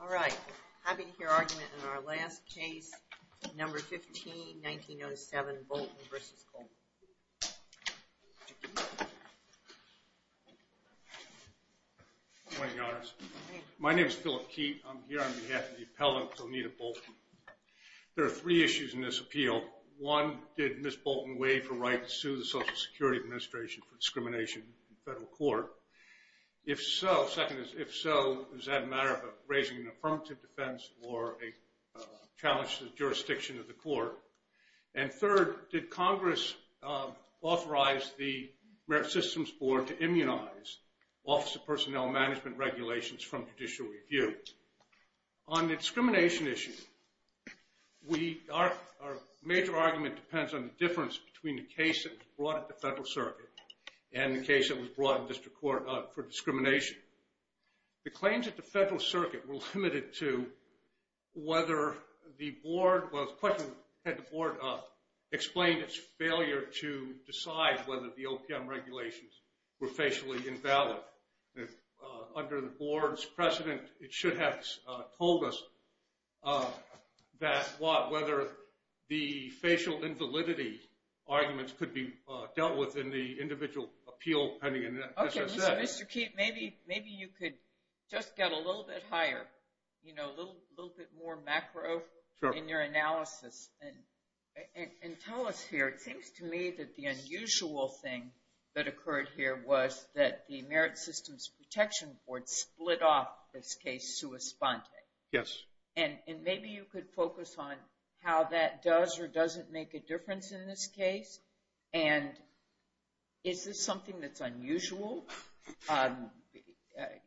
All right. Having here argument in our last case, number 15, 1907, Bolton v. Colvin. Good morning, Your Honor. My name is Philip Keat. I'm here on behalf of the appellant, Zonnytta Bolton. There are three issues in this appeal. One, did Ms. Bolton waive her right to sue the Social Security Administration for discrimination in federal court? If so, second is, if so, is that a matter of raising an affirmative defense or a challenge to the jurisdiction of the court? And third, did Congress authorize the Merit Systems Board to immunize Office of Personnel Management regulations from judicial review? On the discrimination issue, our major argument depends on the difference between the case that was brought at the Federal Circuit and the case that was brought in district court for discrimination. The claims at the Federal Circuit were limited to whether the board was – the question that the board explained its failure to decide whether the OPM regulations were facially invalid. Under the board's precedent, it should have told us that – whether the facial invalidity arguments could be dealt with in the individual appeal. Okay, Mr. Keat, maybe you could just get a little bit higher, you know, a little bit more macro in your analysis. And tell us here, it seems to me that the unusual thing that occurred here was that the Merit Systems Protection Board split off this case sua sponte. Yes. And maybe you could focus on how that does or doesn't make a difference in this case, and is this something that's unusual?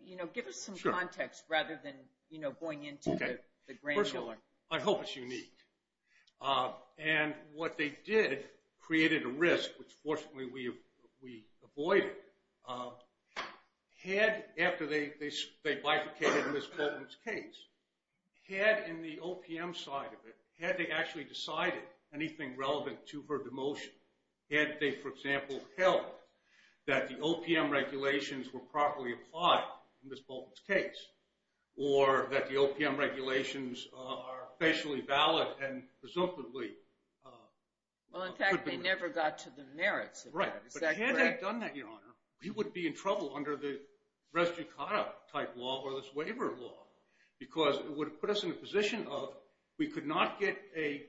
You know, give us some context rather than, you know, going into the granular. I hope it's unique. And what they did created a risk, which fortunately we avoided. Had – after they bifurcated Ms. Bolton's case, had in the OPM side of it, had they actually decided anything relevant to her demotion, had they, for example, held that the OPM regulations were properly applied in Ms. Bolton's case, or that the OPM regulations are facially valid and presumably – Well, in fact, they never got to the merits of that. Right. Is that correct? But had they done that, Your Honor, we would be in trouble under the res jucata type law or this waiver law, because it would have put us in a position of we could not get a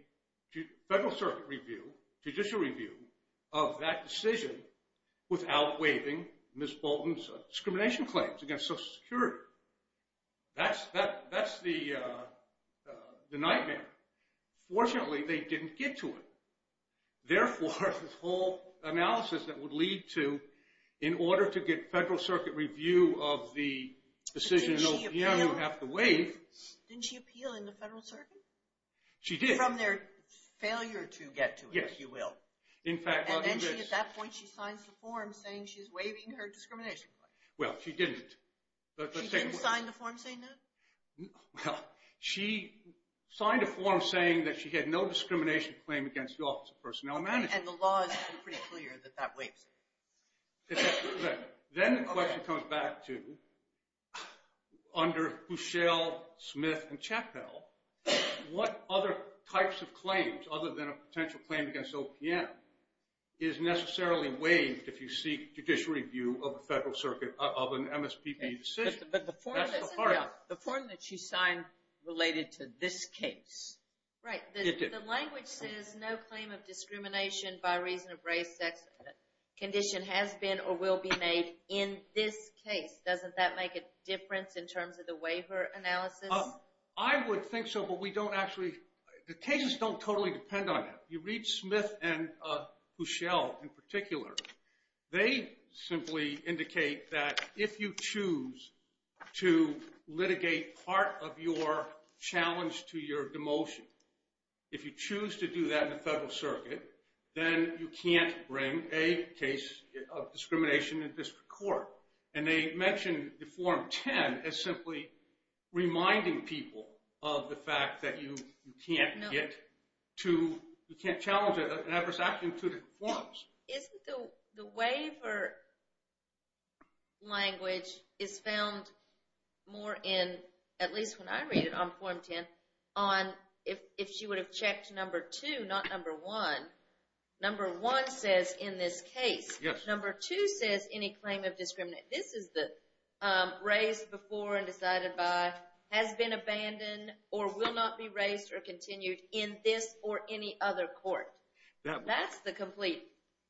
federal circuit review, judicial review of that decision without waiving Ms. Bolton's discrimination claims against Social Security. That's the nightmare. Fortunately, they didn't get to it. Therefore, this whole analysis that would lead to, in order to get federal circuit review of the decision in OPM, you have to waive – Didn't she appeal in the federal circuit? She did. From their failure to get to it, if you will. Yes. In fact – And then she, at that point, she signs the form saying she's waiving her discrimination claim. Well, she didn't. She didn't sign the form saying that? Well, she signed a form saying that she had no discrimination claim against the Office of Personnel Management. And the law is pretty clear that that waives it. Then the question comes back to, under Bushell, Smith, and Chappell, what other types of claims, other than a potential claim against OPM, is necessarily waived if you seek judicial review of a federal circuit, of an MSPB decision? But the form that she signed related to this case. Right. The language says no claim of discrimination by reason of race, sex, condition has been or will be made in this case. Doesn't that make a difference in terms of the waiver analysis? I would think so, but we don't actually – the cases don't totally depend on that. You read Smith and Bushell in particular. They simply indicate that if you choose to litigate part of your challenge to your demotion, if you choose to do that in a federal circuit, then you can't bring a case of discrimination in district court. And they mention the Form 10 as simply reminding people of the fact that you can't get to – you can't challenge it in adverse action to the forms. Isn't the waiver language is found more in, at least when I read it on Form 10, on if she would have checked number two, not number one. Number one says in this case. Yes. Number two says any claim of discrimination. This is the race before and decided by, has been abandoned or will not be raised or continued in this or any other court. That's the complete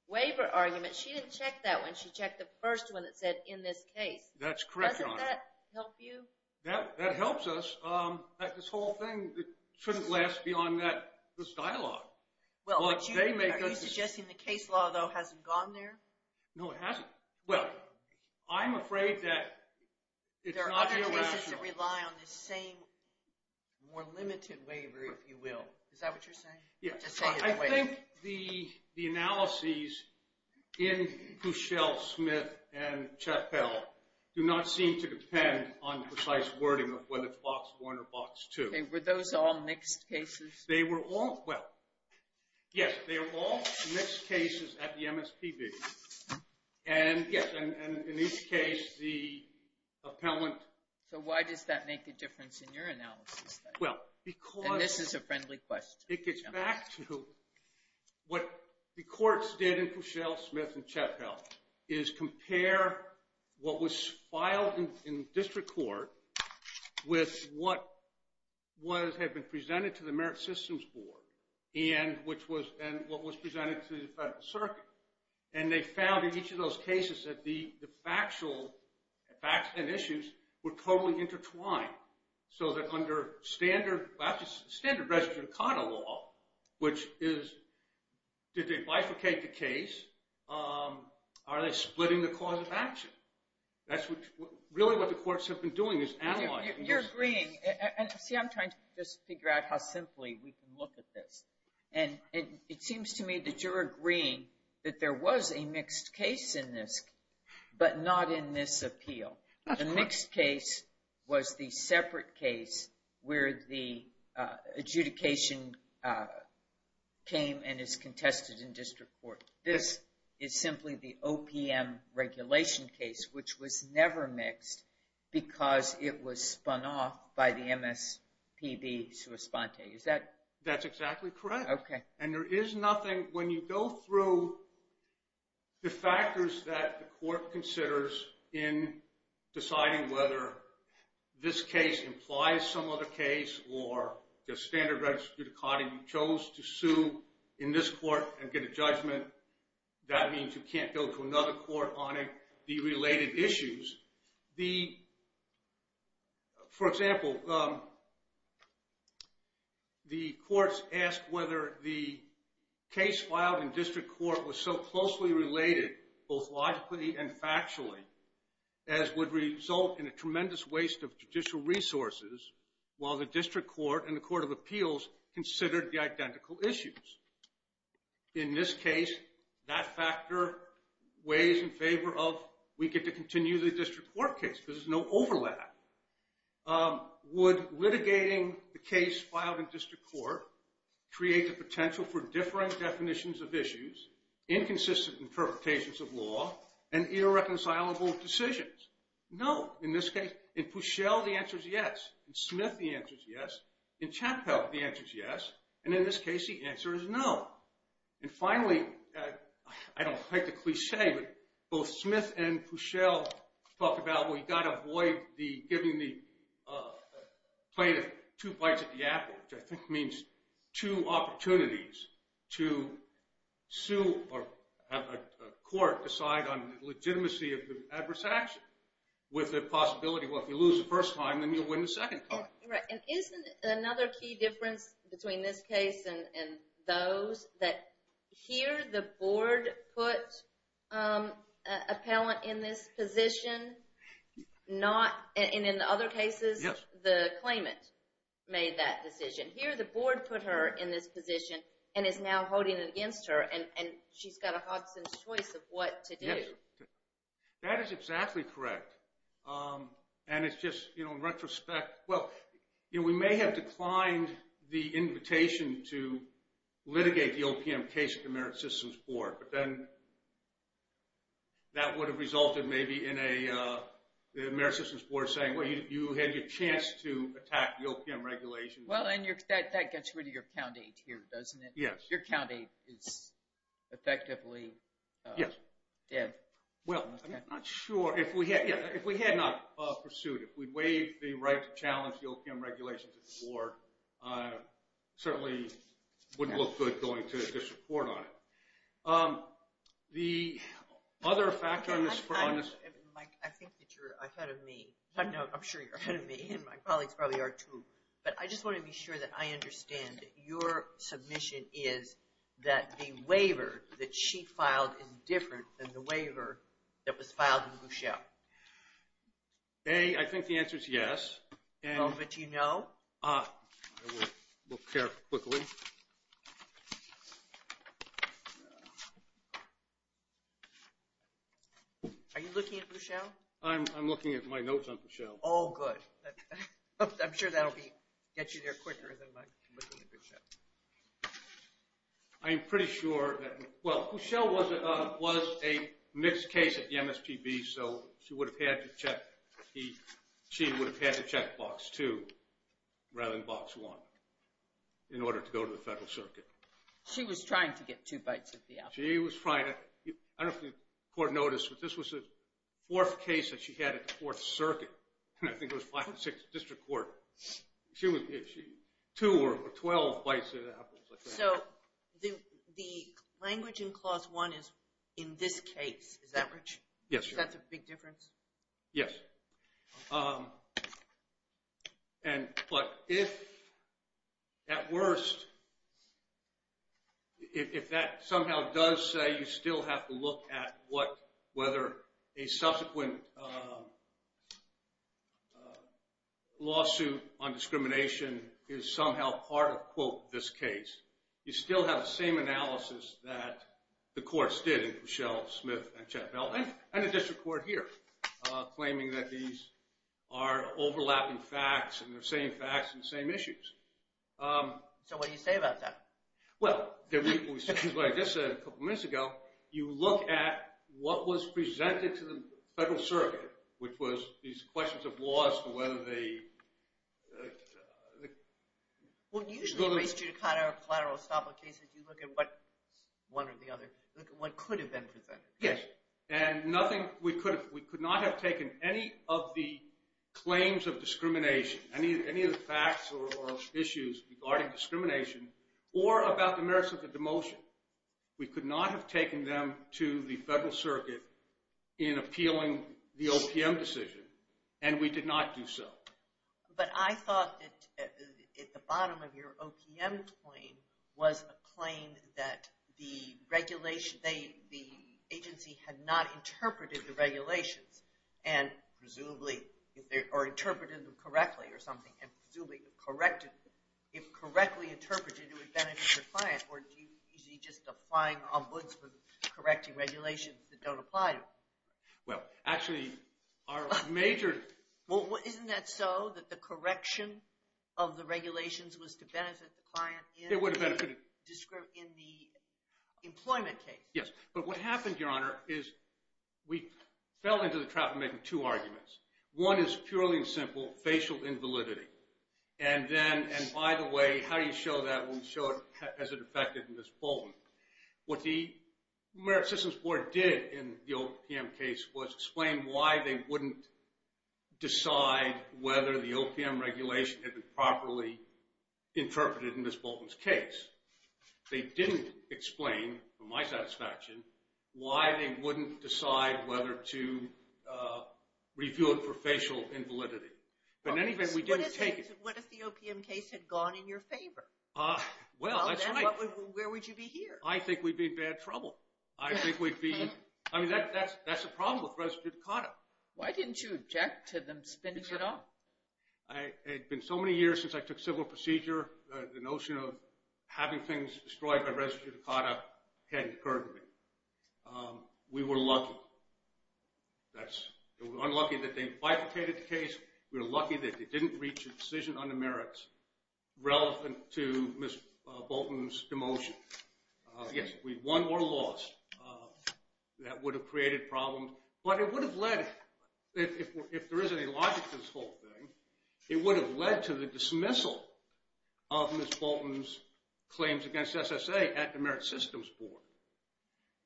waiver argument. She didn't check that one. She checked the first one that said in this case. That's correct, Your Honor. Doesn't that help you? That helps us. This whole thing shouldn't last beyond this dialogue. Are you suggesting the case law, though, hasn't gone there? No, it hasn't. Well, I'm afraid that it's not going to last. There are other cases that rely on this same more limited waiver, if you will. Is that what you're saying? Yes. I think the analyses in Cushel, Smith, and Chappell do not seem to depend on precise wording of whether it's box one or box two. Were those all mixed cases? They were all, well, yes, they were all mixed cases at the MSPB. Yes. And in each case, the appellant. So why does that make a difference in your analysis? Well, because. And this is a friendly question. It gets back to what the courts did in Cushel, Smith, and Chappell is compare what was filed in district court with what had been presented to the Merit Systems Board and what was presented to the Federal Circuit. And they found in each of those cases that the facts and issues were totally intertwined. So that under standard res judicata law, which is, did they bifurcate the case? Are they splitting the cause of action? That's really what the courts have been doing is analyzing. You're agreeing. See, I'm trying to just figure out how simply we can look at this. And it seems to me that you're agreeing that there was a mixed case in this, but not in this appeal. The mixed case was the separate case where the adjudication came and is contested in district court. This is simply the OPM regulation case, which was never mixed because it was spun off by the MSPB sua sponte. That's exactly correct. And there is nothing, when you go through the factors that the court considers in deciding whether this case implies some other case or the standard res judicata, you chose to sue in this court and get a judgment. That means you can't go to another court on the related issues. For example, the courts asked whether the case filed in district court was so closely related, both logically and factually, as would result in a tremendous waste of judicial resources, while the district court and the court of appeals considered the identical issues. In this case, that factor weighs in favor of we get to continue the district court case because there's no overlap. Would litigating the case filed in district court create the potential for differing definitions of issues, inconsistent interpretations of law, and irreconcilable decisions? No. In this case, in Puschel, the answer is yes. In Smith, the answer is yes. In Chappell, the answer is yes. And in this case, the answer is no. And finally, I don't like the cliche, but both Smith and Puschel talk about, well, you've got to avoid giving the plaintiff two bites at the apple, which I think means two opportunities to sue or have a court decide on the legitimacy of the adverse action with the possibility, well, if you lose the first time, then you'll win the second time. Right. And isn't another key difference between this case and those that here, the board put an appellant in this position, and in other cases, the claimant made that decision? Here, the board put her in this position and is now holding it against her, and she's got a Hodgson's choice of what to do. Yes. That is exactly correct. And it's just, in retrospect, well, we may have declined the invitation to litigate the OPM case at the Merit Systems Board, but then that would have resulted maybe in the Merit Systems Board saying, well, you had your chance to attack the OPM regulation. Well, and that gets rid of your Count 8 here, doesn't it? Yes. Your Count 8 is effectively dead. Well, I'm not sure. If we had not pursued, if we'd waived the right to challenge the OPM regulations at the board, certainly wouldn't look good going to a disreport on it. The other factor on this… Mike, I think that you're ahead of me. No, I'm sure you're ahead of me, and my colleagues probably are, too. But I just want to be sure that I understand that your submission is that the waiver that she filed is different than the waiver that was filed in Boucher. A, I think the answer is yes. But do you know? I will look here quickly. Are you looking at Boucher? I'm looking at my notes on Boucher. Oh, good. I'm sure that will get you there quicker than looking at Boucher. I'm pretty sure that, well, Boucher was a mixed case at the MSPB, so she would have had to check Box 2 rather than Box 1 in order to go to the Federal Circuit. She was trying to get two bites at the apple. She was trying to. I don't know if the court noticed, but this was the fourth case that she had at the Fourth Circuit, and I think it was five or six district court. Two or 12 bites at an apple. So the language in Clause 1 is in this case. Is that right? Yes, sure. That's a big difference? Yes. Okay. But if at worst, if that somehow does say you still have to look at whether a subsequent lawsuit on discrimination is somehow part of, quote, this case, you still have the same analysis that the courts did in Pushell, Smith, and Chappell, and the district court here, claiming that these are overlapping facts and they're the same facts and the same issues. So what do you say about that? Well, what I just said a couple minutes ago, you look at what was presented to the Federal Circuit, which was these questions of laws for whether they… Well, usually in race judicata or collateral estoppel cases, you look at what one or the other, look at what could have been presented. Yes. And nothing, we could not have taken any of the claims of discrimination, any of the facts or issues regarding discrimination, or about the merits of the demotion. We could not have taken them to the Federal Circuit in appealing the OPM decision, and we did not do so. But I thought that at the bottom of your OPM claim was a claim that the agency had not interpreted the regulations, and presumably, or interpreted them correctly or something, and presumably corrected them. If correctly interpreted, it would benefit the client, or is he just a flying ombudsman correcting regulations that don't apply to him? Well, actually, our major… Well, isn't that so, that the correction of the regulations was to benefit the client in the employment case? Yes, but what happened, Your Honor, is we fell into the trap of making two arguments. One is purely and simple, facial invalidity. And then, and by the way, how do you show that when you show it as it affected Ms. Bolton? What the Merit Systems Board did in the OPM case was explain why they wouldn't decide whether the OPM regulation had been properly interpreted in Ms. Bolton's case. They didn't explain, to my satisfaction, why they wouldn't decide whether to review it for facial invalidity. But in any event, we didn't take it. What if the OPM case had gone in your favor? Well, that's right. Where would you be here? I think we'd be in bad trouble. I think we'd be… I mean, that's the problem with res judicata. Why didn't you object to them spinning it off? It had been so many years since I took civil procedure, the notion of having things destroyed by res judicata hadn't occurred to me. We were lucky. We were unlucky that they bifurcated the case. We were lucky that they didn't reach a decision on the merits relevant to Ms. Bolton's demotion. Yes, we won or lost. That would have created problems. But it would have led, if there is any logic to this whole thing, it would have led to the dismissal of Ms. Bolton's claims against SSA at the Merit Systems Board.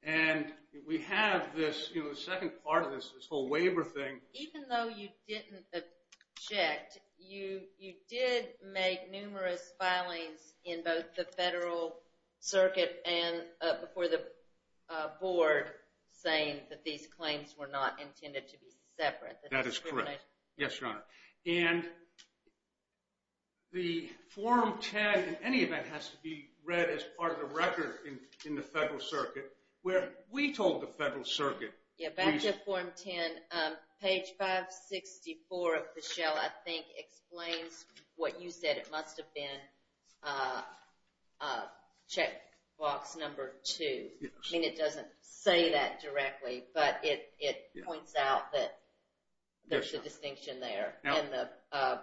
And we have this second part of this, this whole waiver thing. Even though you didn't object, you did make numerous filings in both the federal circuit and before the board saying that these claims were not intended to be separate. That is correct. Yes, Your Honor. And the Form 10, in any event, has to be read as part of the record in the federal circuit where we told the federal circuit. Yeah, back to Form 10. Page 564 of the shell, I think, explains what you said. It must have been check box number two. I mean, it doesn't say that directly, but it points out that there's a distinction there and the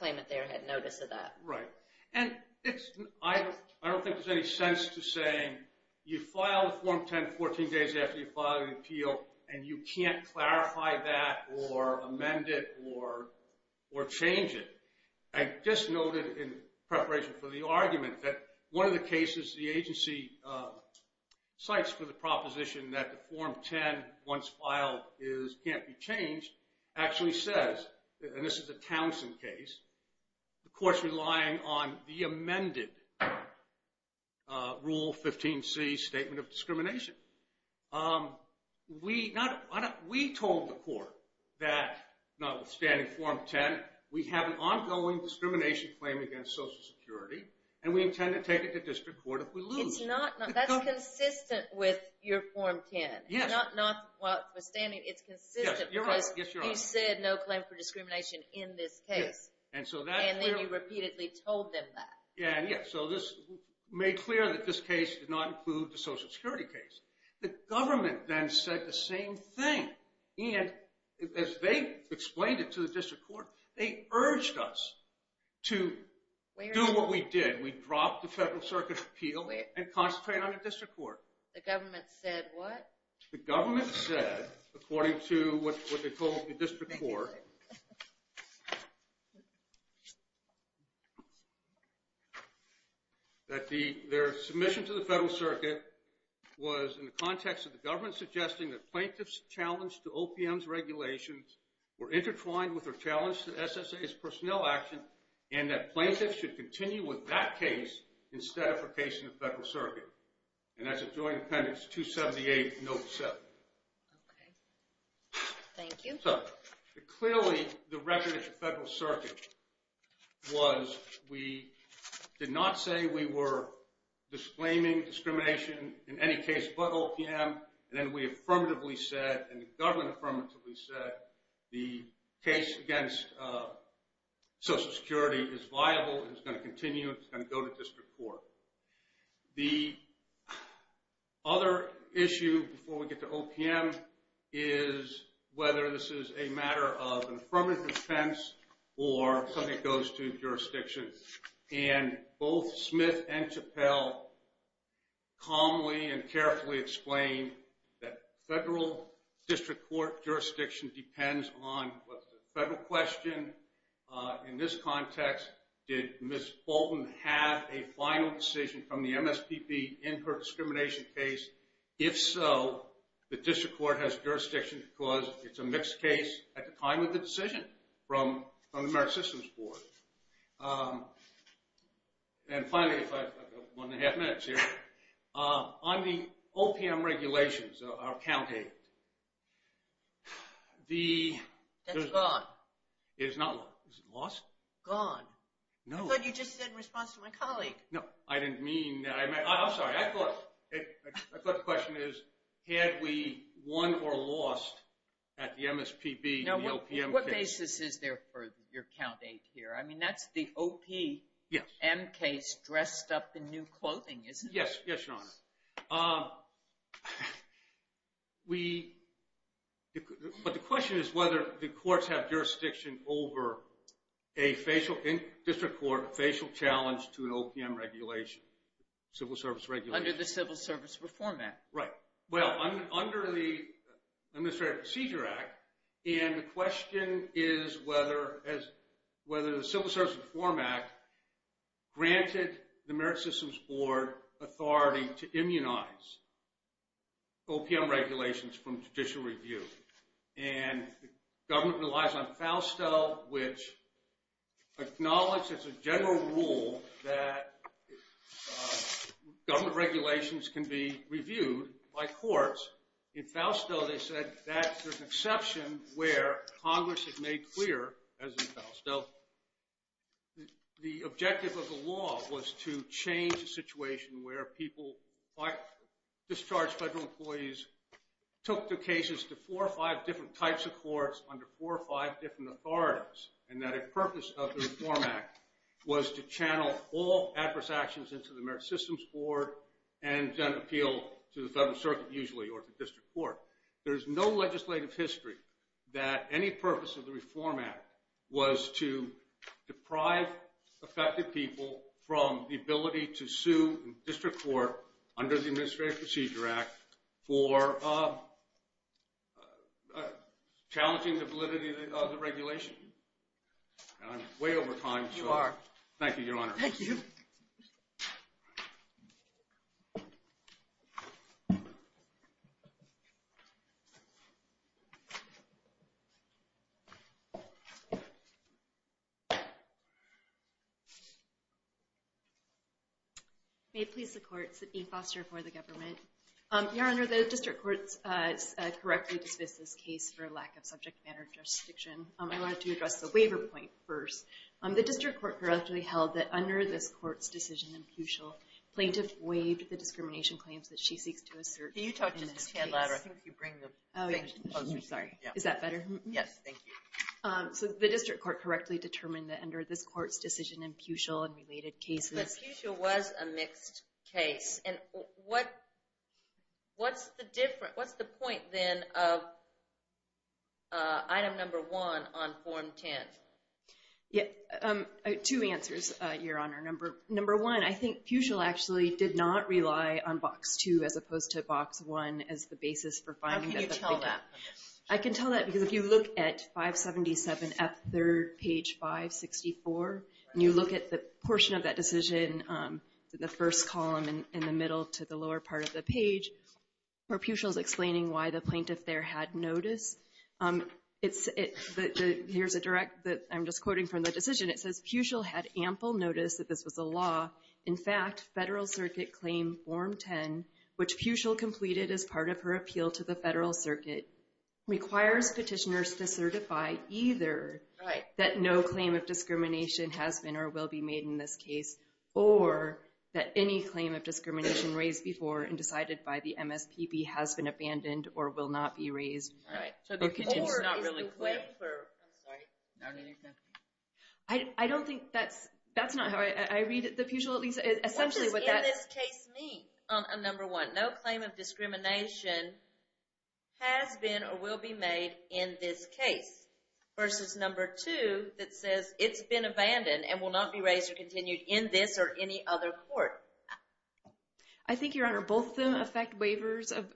claimant there had notice of that. Right. And I don't think there's any sense to saying you file Form 10 14 days after you file an appeal and you can't clarify that or amend it or change it. I just noted in preparation for the argument that one of the cases the agency cites for the proposition that the Form 10, once filed, can't be changed, actually says, and this is a Townsend case, the court's relying on the amended Rule 15C Statement of Discrimination. We told the court that notwithstanding Form 10, we have an ongoing discrimination claim against Social Security and we intend to take it to district court if we lose. That's consistent with your Form 10. Notwithstanding, it's consistent because you said no claim for discrimination in this case. And so that's clear. And then you repeatedly told them that. Yeah, so this made clear that this case did not include the Social Security case. The government then said the same thing. And as they explained it to the district court, they urged us to do what we did. We dropped the Federal Circuit's appeal and concentrated on the district court. The government said what? That their submission to the Federal Circuit was in the context of the government suggesting that plaintiffs' challenge to OPM's regulations were intertwined with their challenge to SSA's personnel action, and that plaintiffs should continue with that case instead of a case in the Federal Circuit. And that's a Joint Appendix 278, Note 7. Okay. Thank you. So clearly the record at the Federal Circuit was we did not say we were disclaiming discrimination in any case but OPM, and then we affirmatively said and the government affirmatively said the case against Social Security is viable and is going to continue and go to district court. The other issue before we get to OPM is whether this is a matter of affirmative defense or something that goes to jurisdiction. And both Smith and Chappell calmly and carefully explained that federal district court jurisdiction depends on what's the federal question. In this context, did Ms. Fulton have a final decision from the MSPP in her discrimination case? If so, the district court has jurisdiction because it's a mixed case at the time of the decision from the American Systems Board. And finally, if I have one and a half minutes here, on the OPM regulations, our account aid. That's gone. It is not. Is it lost? Gone. No. I thought you just said in response to my colleague. No. I didn't mean that. I'm sorry. I thought the question is had we won or lost at the MSPB in the OPM case. Now, what basis is there for your count aid here? I mean, that's the OPM case dressed up in new clothing, isn't it? Yes. Yes, Your Honor. Yes. But the question is whether the courts have jurisdiction over a district court facial challenge to an OPM regulation, civil service regulation. Under the Civil Service Reform Act. Right. Well, under the Administrative Procedure Act, and the question is whether the Civil Service Reform Act granted the American Systems Board authority to immunize OPM regulations from judicial review. And the government relies on FAUSTO, which acknowledges a general rule that government regulations can be reviewed by courts. In FAUSTO, they said that's an exception where Congress has made clear, as in FAUSTO, the objective of the law was to change the situation where people, by discharged federal employees, took the cases to four or five different types of courts under four or five different authorities, and that a purpose of the Reform Act was to channel all adverse actions into the American Systems Board and then appeal to the federal circuit, usually, or to district court. There's no legislative history that any purpose of the Reform Act was to deprive affected people from the ability to sue district court under the Administrative Procedure Act for challenging the validity of the regulation. I'm way over time. You are. Thank you, Your Honor. Thank you. May it please the courts that being fostered for the government. Your Honor, the district courts correctly dismissed this case for lack of subject matter jurisdiction. I wanted to address the waiver point first. The district court correctly held that under this court's decision imputial, plaintiff waived the discrimination claims that she seeks to assert in this case. Can you talk just a hand louder? I think you bring the mic closer. Sorry. Is that better? Yes, thank you. So the district court correctly determined that under this court's decision imputial and related cases. But imputial was a mixed case. And what's the point, then, of item number one on form 10? Two answers, Your Honor. Number one, I think Pucil actually did not rely on box two as opposed to box one as the basis for finding that the plaintiff. How can you tell that? I can tell that because if you look at 577F3, page 564, and you look at the portion of that decision, the first column in the middle to the lower part of the page, where Pucil is explaining why the plaintiff there had notice, it's the ‑‑ here's a direct ‑‑ I'm just quoting from the decision. It says Pucil had ample notice that this was a law. In fact, Federal Circuit Claim Form 10, which Pucil completed as part of her appeal to the Federal Circuit, requires petitioners to certify either that no claim of discrimination has been or will be made in this case, or that any claim of discrimination raised before and decided by the MSPB has been abandoned or will not be raised. Or is the claim for ‑‑ I'm sorry. I don't think that's ‑‑ that's not how I read it. What does in this case mean? Number one, no claim of discrimination has been or will be made in this case, versus number two that says it's been abandoned and will not be raised or continued in this or any other court. I think, Your Honor, both of them affect waivers of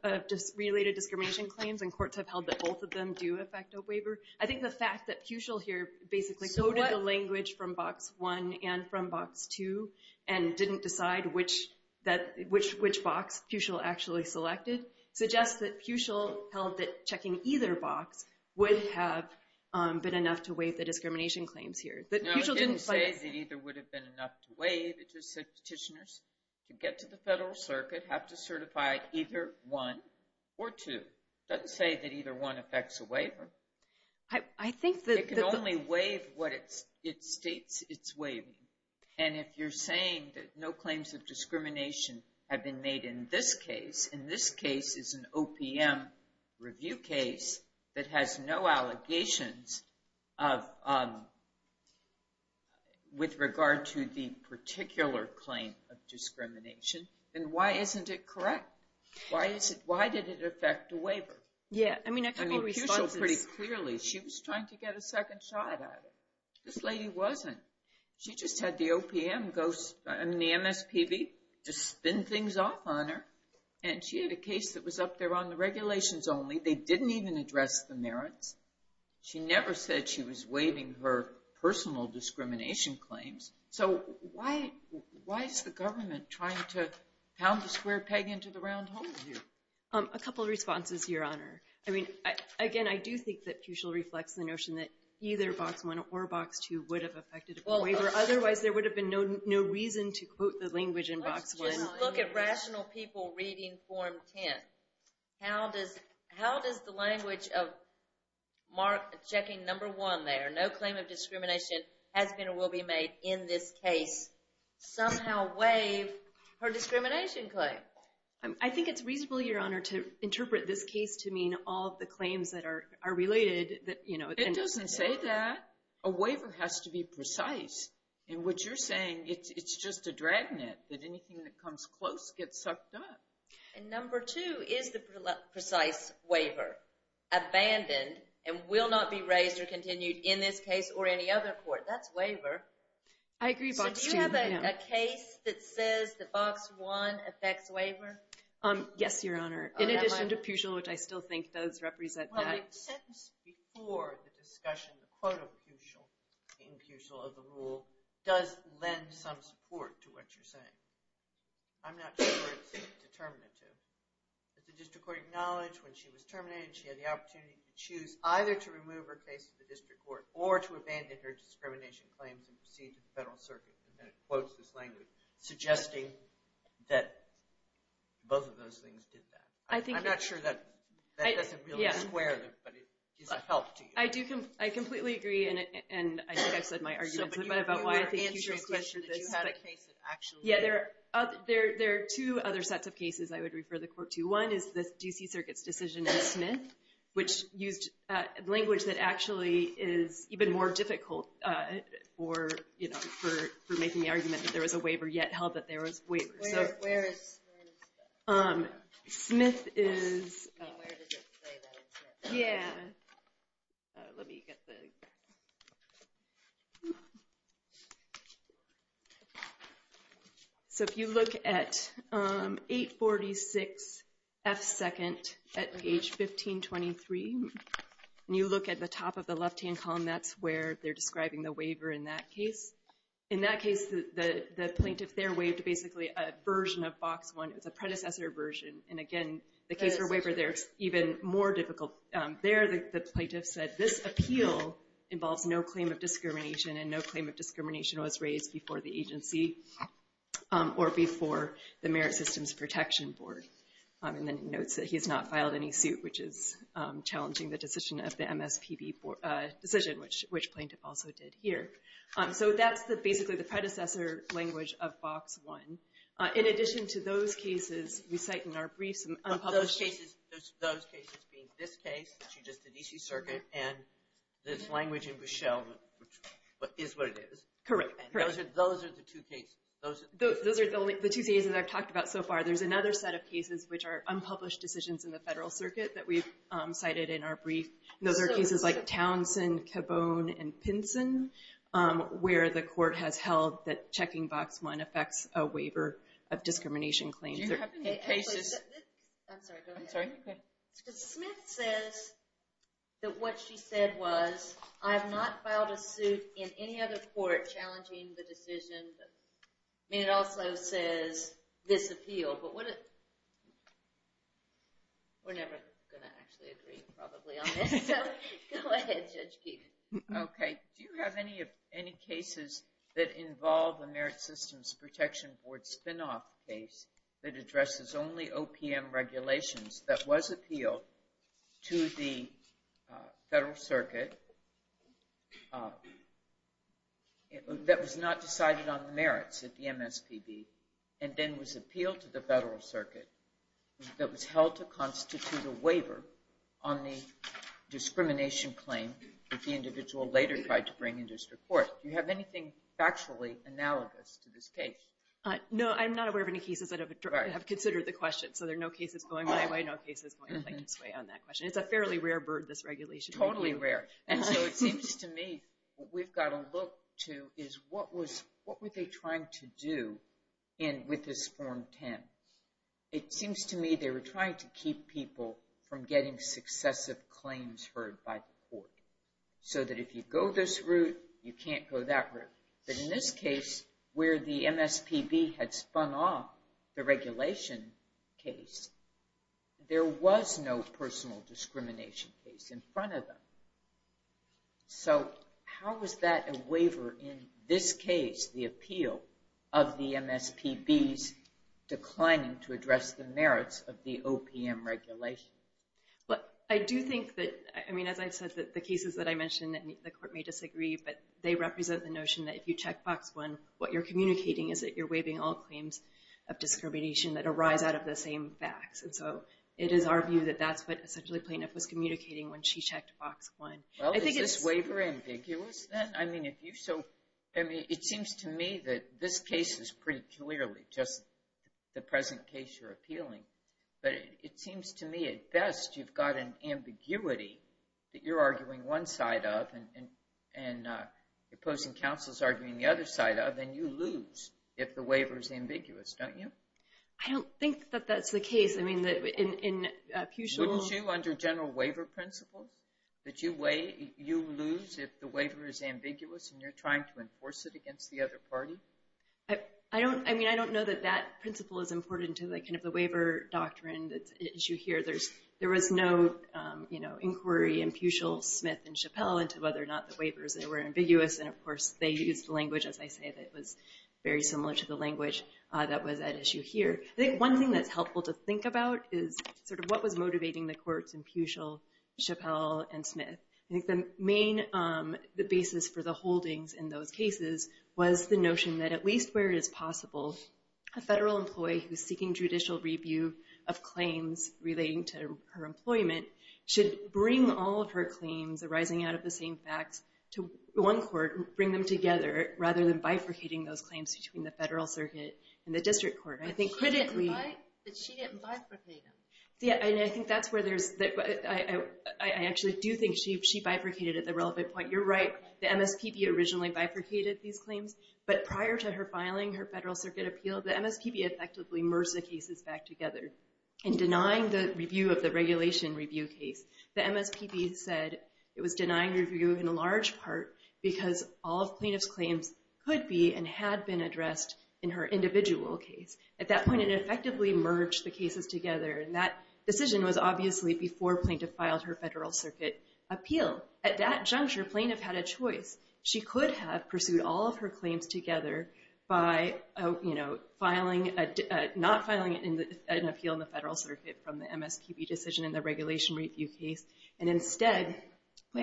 related discrimination claims, and courts have held that both of them do affect a waiver. I think the fact that Pucil here basically coded the language from box one and from box two and didn't decide which box Pucil actually selected suggests that Pucil held that checking either box would have been enough to waive the discrimination claims here. No, it didn't say that either would have been enough to waive. It just said petitioners to get to the Federal Circuit have to certify either one or two. It doesn't say that either one affects a waiver. I think that the ‑‑ It can only waive what it states it's waiving. And if you're saying that no claims of discrimination have been made in this case, and this case is an OPM review case that has no allegations of ‑‑ with regard to the particular claim of discrimination, then why isn't it correct? Why did it affect a waiver? Yeah, I mean, I think Pucil pretty clearly, she was trying to get a second shot at it. This lady wasn't. She just had the OPM, the MSPB just spin things off on her, and she had a case that was up there on the regulations only. They didn't even address the merits. She never said she was waiving her personal discrimination claims. So, why is the government trying to pound the square peg into the round hole here? A couple of responses, Your Honor. I mean, again, I do think that Pucil reflects the notion that either Box 1 or Box 2 would have affected a waiver. Otherwise, there would have been no reason to quote the language in Box 1. Let's just look at rational people reading Form 10. How does the language of mark checking number one there, no claim of discrimination has been or will be made in this case, somehow waive her discrimination claim? I think it's reasonable, Your Honor, to interpret this case to mean all of the claims that are related. It doesn't say that. A waiver has to be precise. And what you're saying, it's just a dragnet that anything that comes close gets sucked up. And number two, is the precise waiver abandoned and will not be raised or continued in this case or any other court? That's waiver. So, do you have a case that says that Box 1 affects waiver? Yes, Your Honor. In addition to Pucil, which I still think does represent that. Well, the sentence before the discussion, the quote of Pucil, in Pucil of the rule, does lend some support to what you're saying. I'm not sure it's determinative. But the district court acknowledged when she was terminated, she had the opportunity to choose either to remove her case to the district court or to abandon her discrimination claims and proceed to the federal circuit. And then it quotes this language, suggesting that both of those things did that. I'm not sure that doesn't really square, but it gives a help to you. I completely agree, and I think I've said my argument. So, but you were answering a question that you had a case that actually did. Yeah, there are two other sets of cases I would refer the court to. One is the D.C. Circuit's decision in Smith, which used language that actually is even more difficult for making the argument that there was a waiver, yet held that there was a waiver. Where is that? Smith is... Where does it say that in Smith? Yeah. Let me get the... So if you look at 846F2nd at page 1523, and you look at the top of the left-hand column, that's where they're describing the waiver in that case. In that case, the plaintiff there waived basically a version of Box 1. It was a predecessor version. And again, the case for waiver there is even more difficult. There, the plaintiff said, this appeal involves no claim of discrimination, and no claim of discrimination was raised before the agency or before the Merit Systems Protection Board. And then he notes that he has not filed any suit, which is challenging the decision of the MSPB decision, which plaintiff also did here. So that's basically the predecessor language of Box 1. In addition to those cases, we cite in our brief some unpublished... Those cases being this case, which is just the D.C. Circuit, and this language in Bushell, which is what it is. Correct. And those are the two cases... Those are the two cases I've talked about so far. There's another set of cases which are unpublished decisions in the Federal Circuit that we've cited in our brief. Those are cases like Townsend, Cabone, and Pinson, where the court has held that checking Box 1 affects a waiver of discrimination claims. Do you have any cases... I'm sorry, go ahead. I'm sorry, go ahead. Because Smith says that what she said was, I have not filed a suit in any other court challenging the decision. I mean, it also says, this appeal. But would it... We're never going to actually agree, probably, on this. So go ahead, Judge Keefe. Okay. Do you have any cases that involve a Merit Systems Protection Board spin-off case that addresses only OPM regulations that was appealed to the Federal Circuit that was not decided on the merits at the MSPB and then was appealed to the Federal Circuit that was held to constitute a waiver on the discrimination claim that the individual later tried to bring in district court? Do you have anything factually analogous to this case? No, I'm not aware of any cases that have considered the question, so there are no cases going my way, no cases going plaintiff's way on that question. It's a fairly rare bird, this regulation. Totally rare. And so it seems to me what we've got to look to is what were they trying to do with this Form 10? It seems to me they were trying to keep people from getting successive claims heard by the court so that if you go this route, you can't go that route. But in this case, where the MSPB had spun off the regulation case, there was no personal discrimination case in front of them. So how is that a waiver in this case, the appeal of the MSPB's declining to address the merits of the OPM regulation? I do think that, I mean, as I said, the cases that I mentioned, the court may disagree, but they represent the notion that if you check box one, what you're communicating is that you're waiving all claims of discrimination that arise out of the same facts. And so it is our view that that's what essentially plaintiff was communicating when she checked box one. Well, is this waiver ambiguous then? I mean, it seems to me that this case is pretty clearly just the present case you're appealing, but it seems to me at best you've got an ambiguity that you're arguing one side of and opposing counsels arguing the other side of, and you lose if the waiver is ambiguous, don't you? I don't think that that's the case. I mean, in Peutschel's- Wouldn't you, under general waiver principles, that you lose if the waiver is ambiguous and you're trying to enforce it against the other party? I mean, I don't know that that principle is important to the waiver doctrine issue here. There was no inquiry in Peutschel, Smith, and Chappell into whether or not the waivers were ambiguous, and of course they used language, as I say, that was very similar to the language that was at issue here. I think one thing that's helpful to think about is sort of what was motivating the courts in Peutschel, Chappell, and Smith. I think the main basis for the holdings in those cases was the notion that at least where it is possible, a federal employee who's seeking judicial review of claims relating to her employment should bring all of her claims arising out of the same facts to one court and bring them together rather than bifurcating those claims between the federal circuit and the district court. I think critically- But she didn't bifurcate them. Yeah, and I think that's where there's- I actually do think she bifurcated at the relevant point. You're right, the MSPB originally bifurcated these claims, but prior to her filing her federal circuit appeal, the MSPB effectively merged the cases back together and denying the review of the regulation review case. The MSPB said it was denying review in large part because all of plaintiff's claims could be and had been addressed in her individual case. At that point, it effectively merged the cases together, and that decision was obviously before plaintiff filed her federal circuit appeal. At that juncture, plaintiff had a choice. She could have pursued all of her claims together by, you know, filing a- not filing an appeal in the federal circuit from the MSPB decision in the regulation review case and instead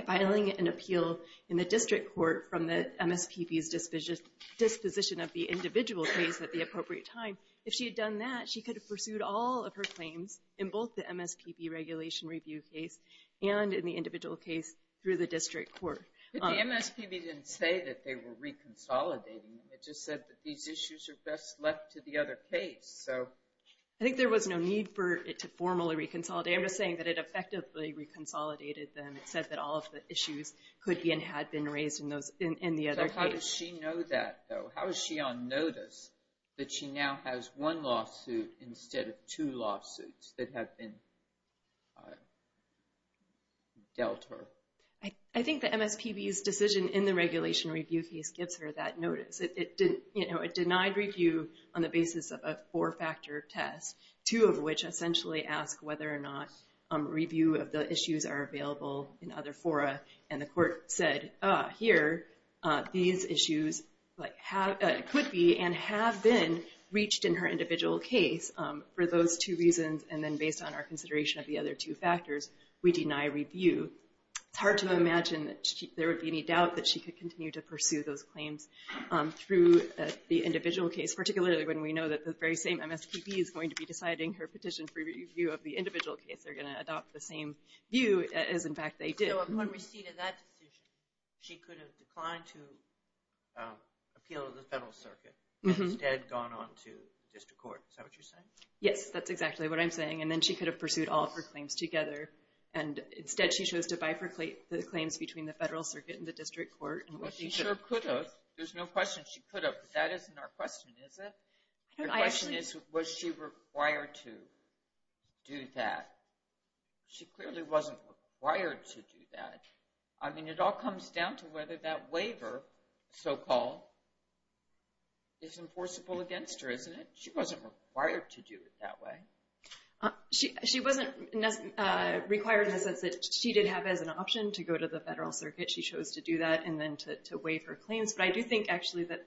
filing an appeal in the district court from the MSPB's disposition of the individual case at the appropriate time. If she had done that, she could have pursued all of her claims in both the MSPB regulation review case and in the individual case through the district court. But the MSPB didn't say that they were reconsolidating them. It just said that these issues are best left to the other case, so- I think there was no need for it to formally reconsolidate. I'm just saying that it effectively reconsolidated them. It said that all of the issues could be and had been raised in the other case. So how does she know that, though? How is she on notice that she now has one lawsuit instead of two lawsuits that have been dealt her? I think the MSPB's decision in the regulation review case gives her that notice. You know, it denied review on the basis of a four-factor test, two of which essentially ask whether or not review of the issues are available in other fora. And the court said, here, these issues could be and have been reached in her individual case for those two reasons and then based on our consideration of the other two factors, we deny review. It's hard to imagine that there would be any doubt that she could continue to pursue those claims through the individual case, particularly when we know that the very same MSPB is going to be deciding her petition for review of the individual case. They're going to adopt the same view as, in fact, they did. So upon receipt of that decision, she could have declined to appeal to the Federal Circuit and instead gone on to the district court. Is that what you're saying? Yes, that's exactly what I'm saying. And then she could have pursued all of her claims together. And instead, she chose to bifurcate the claims between the Federal Circuit and the district court. Well, she sure could have. There's no question she could have. That isn't our question, is it? The question is, was she required to do that? She clearly wasn't required to do that. I mean, it all comes down to whether that waiver, so-called, is enforceable against her, isn't it? She wasn't required to do it that way. She wasn't required in the sense that she did have as an option to go to the Federal Circuit. She chose to do that and then to waive her claims. But I do think, actually, that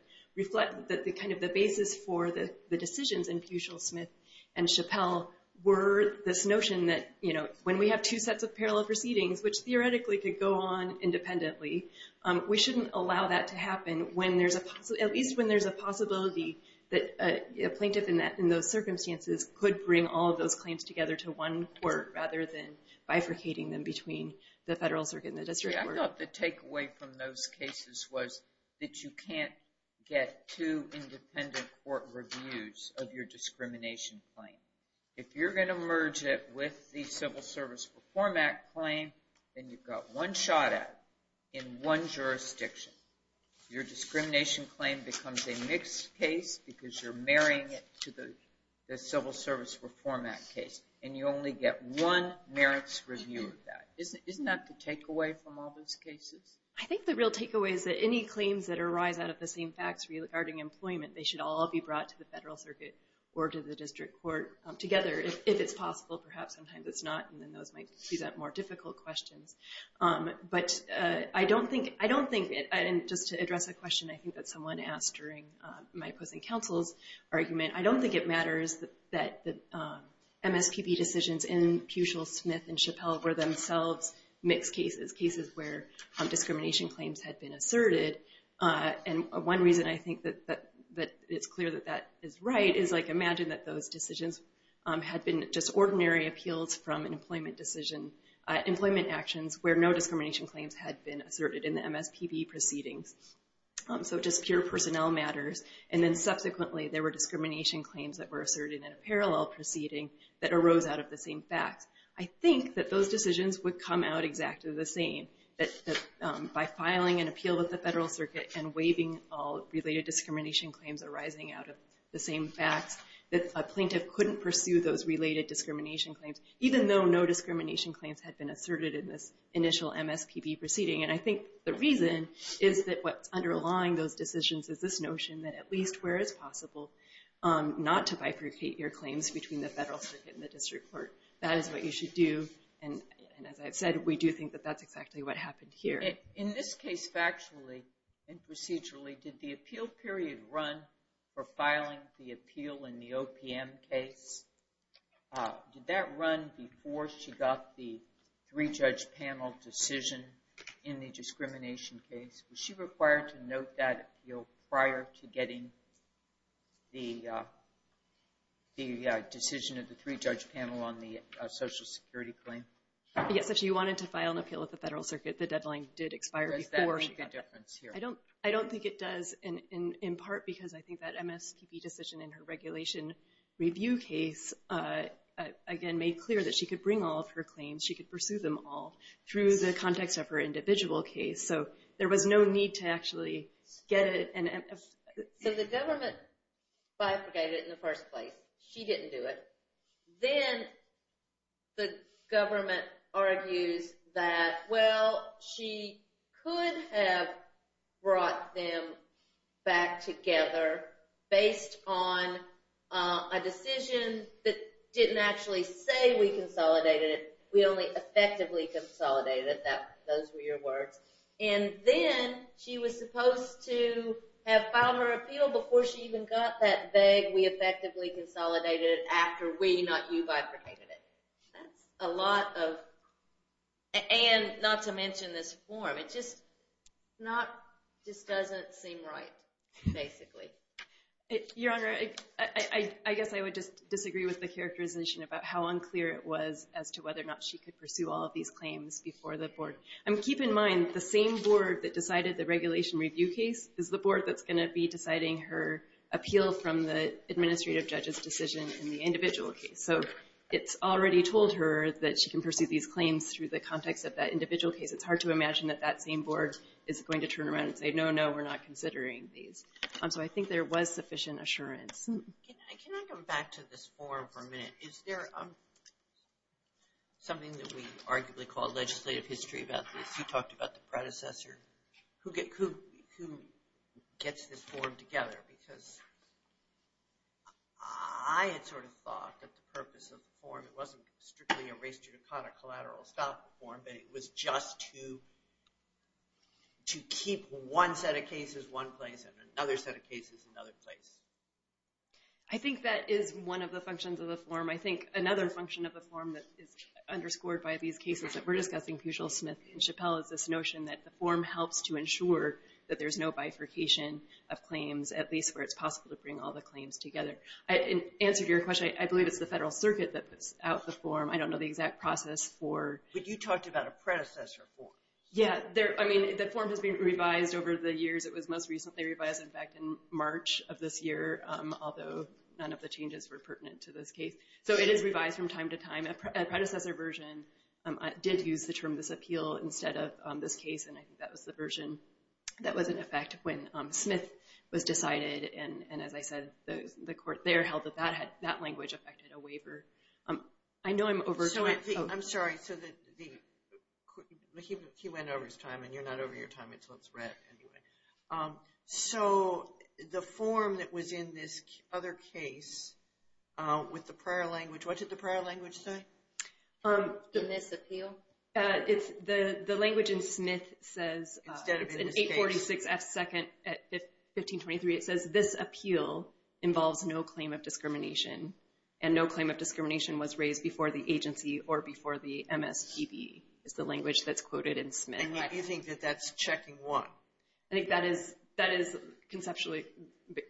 kind of the basis for the decisions in Peutschel, Smith, and Chappell were this notion that when we have two sets of parallel proceedings, which theoretically could go on independently, we shouldn't allow that to happen, at least when there's a possibility that a plaintiff in those circumstances could bring all of those claims together to one court rather than bifurcating them between the Federal Circuit and the district court. I thought the takeaway from those cases was that you can't get two independent court reviews of your discrimination claim. If you're going to merge it with the Civil Service Reform Act claim, then you've got one shot at it in one jurisdiction. Your discrimination claim becomes a mixed case because you're marrying it to the Civil Service Reform Act case, and you only get one merits review of that. Isn't that the takeaway from all those cases? I think the real takeaway is that any claims that arise out of the same facts regarding employment, they should all be brought to the Federal Circuit or to the district court together, if it's possible. Perhaps sometimes it's not, and then those might present more difficult questions. But I don't think, and just to address a question I think that someone asked during my opposing counsel's argument, I don't think it matters that the MSPB decisions in Puchel, Smith, and Chappelle were themselves mixed cases, cases where discrimination claims had been asserted. And one reason I think that it's clear that that is right is imagine that those decisions had been just ordinary appeals from an employment decision, employment actions where no discrimination claims had been asserted in the MSPB proceedings. So just pure personnel matters, and then subsequently there were discrimination claims that were asserted in a parallel proceeding that arose out of the same facts. I think that those decisions would come out exactly the same, that by filing an appeal with the Federal Circuit and waiving all related discrimination claims arising out of the same facts, that a plaintiff couldn't pursue those related discrimination claims, even though no discrimination claims had been asserted in this initial MSPB proceeding. And I think the reason is that what's underlying those decisions is this notion that at least where it's possible not to bifurcate your claims between the Federal Circuit and the district court, that is what you should do. And as I've said, we do think that that's exactly what happened here. In this case, factually and procedurally, did the appeal period run for filing the appeal in the OPM case? Did that run before she got the three-judge panel decision in the discrimination case? Was she required to note that appeal prior to getting the decision of the three-judge panel on the Social Security claim? Yes, if she wanted to file an appeal at the Federal Circuit, the deadline did expire before she got it. Does that make a difference here? I don't think it does, in part because I think that MSPB decision in her regulation review case, again, made clear that she could bring all of her claims, she could pursue them all through the context of her individual case. So there was no need to actually get it. So the government bifurcated it in the first place. She didn't do it. Then the government argues that, well, she could have brought them back together based on a decision that didn't actually say we consolidated it. We only effectively consolidated it. Those were your words. And then she was supposed to have filed her appeal before she even got that vague that we effectively consolidated it after we, not you, bifurcated it. That's a lot of, and not to mention this form. It just doesn't seem right, basically. Your Honor, I guess I would just disagree with the characterization about how unclear it was as to whether or not she could pursue all of these claims before the board. Keep in mind, the same board that decided the regulation review case is the board that's going to be deciding her appeal from the administrative judge's decision in the individual case. So it's already told her that she can pursue these claims through the context of that individual case. It's hard to imagine that that same board is going to turn around and say, no, no, we're not considering these. So I think there was sufficient assurance. Can I come back to this form for a minute? Is there something that we arguably call legislative history about this? You talked about the predecessor. Who gets this form together? Because I had sort of thought that the purpose of the form, it wasn't strictly a race judicata collateral style form, but it was just to keep one set of cases one place and another set of cases another place. I think that is one of the functions of the form. I think another function of the form that is underscored by these cases that we're discussing, Pugil, Smith, and Chappell, is this notion that the form helps to ensure that there's no bifurcation of claims, at least where it's possible to bring all the claims together. In answer to your question, I believe it's the Federal Circuit that puts out the form. I don't know the exact process for it. But you talked about a predecessor form. Yeah. I mean, the form has been revised over the years. It was most recently revised back in March of this year, although none of the changes were pertinent to this case. So it is revised from time to time. A predecessor version did use the term disappeal instead of this case, and I think that was the version that was in effect when Smith was decided. And as I said, the court there held that that language affected a waiver. I know I'm over time. I'm sorry. He went over his time, and you're not over your time until it's read anyway. So the form that was in this other case with the prior language, what did the prior language say? The misappeal. The language in Smith says, it's in 846F2 at 1523, it says, this appeal involves no claim of discrimination, and no claim of discrimination was raised before the agency or before the MSPB is the language that's quoted in Smith. And you think that that's checking what? I think that is conceptually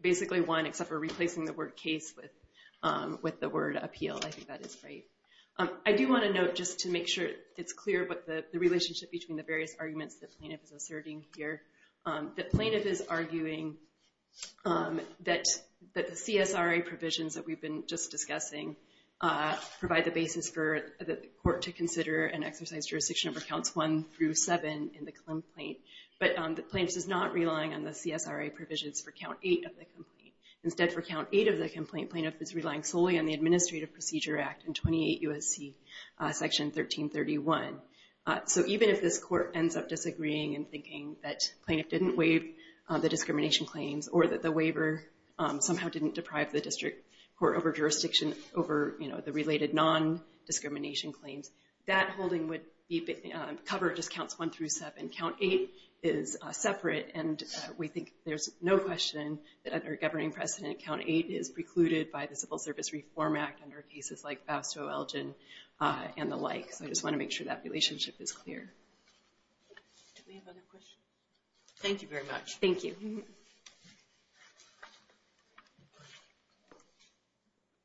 basically one, except for replacing the word case with the word appeal. I think that is right. I do want to note, just to make sure it's clear, but the relationship between the various arguments the plaintiff is asserting here, the plaintiff is arguing that the CSRA provisions that we've been just discussing provide the basis for the court to consider and exercise jurisdiction over counts one through seven in the Clem Plaint. But the plaintiff is not relying on the CSRA provisions for count eight of the complaint. Instead, for count eight of the complaint, plaintiff is relying solely on the Administrative Procedure Act in 28 U.S.C. section 1331. So even if this court ends up disagreeing and thinking that plaintiff didn't waive the discrimination claims, or that the waiver somehow didn't deprive the district court over jurisdiction over the related non-discrimination claims, that holding would be covered as counts one through seven. Count eight is separate, and we think there's no question that under a governing precedent, count eight is precluded by the Civil Service Reform Act under cases like Bastow-Elgin and the like. So I just want to make sure that relationship is clear. Do we have other questions? Thank you very much. Thank you.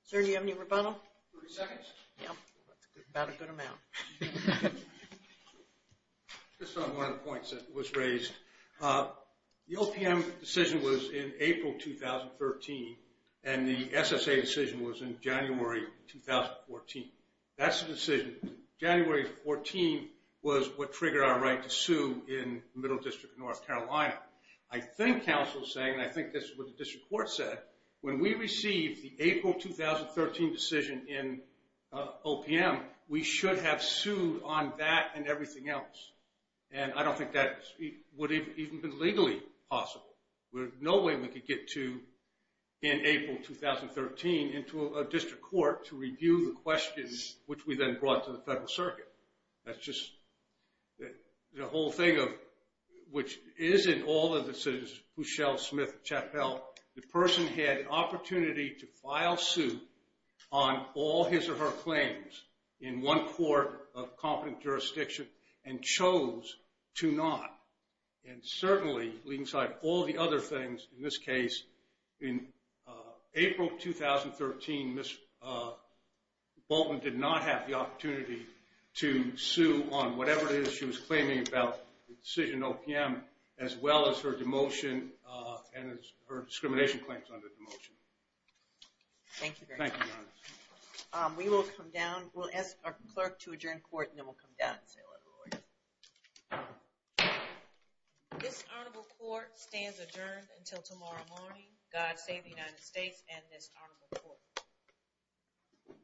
Sir, do you have any rebuttal? 30 seconds? Yeah, about a good amount. Just on one of the points that was raised. The OPM decision was in April 2013, and the SSA decision was in January 2014. That's the decision. January 14 was what triggered our right to sue in Middle District of North Carolina. I think counsel is saying, and I think this is what the district court said, that when we received the April 2013 decision in OPM, we should have sued on that and everything else. And I don't think that would have even been legally possible. There's no way we could get to, in April 2013, into a district court to review the questions, which we then brought to the federal circuit. That's just the whole thing of, which is in all of the decisions, Pushell, Smith, Chappell, the person had an opportunity to file suit on all his or her claims in one court of competent jurisdiction and chose to not. And certainly, alongside all the other things in this case, in April 2013, Ms. Bolton did not have the opportunity to sue on whatever it is she was claiming about the decision in OPM, as well as her demotion and her discrimination claims under demotion. Thank you very much. Thank you, Your Honor. We will come down. We'll ask our clerk to adjourn court, and then we'll come down and say a little more. This honorable court stands adjourned until tomorrow morning. God save the United States and this honorable court.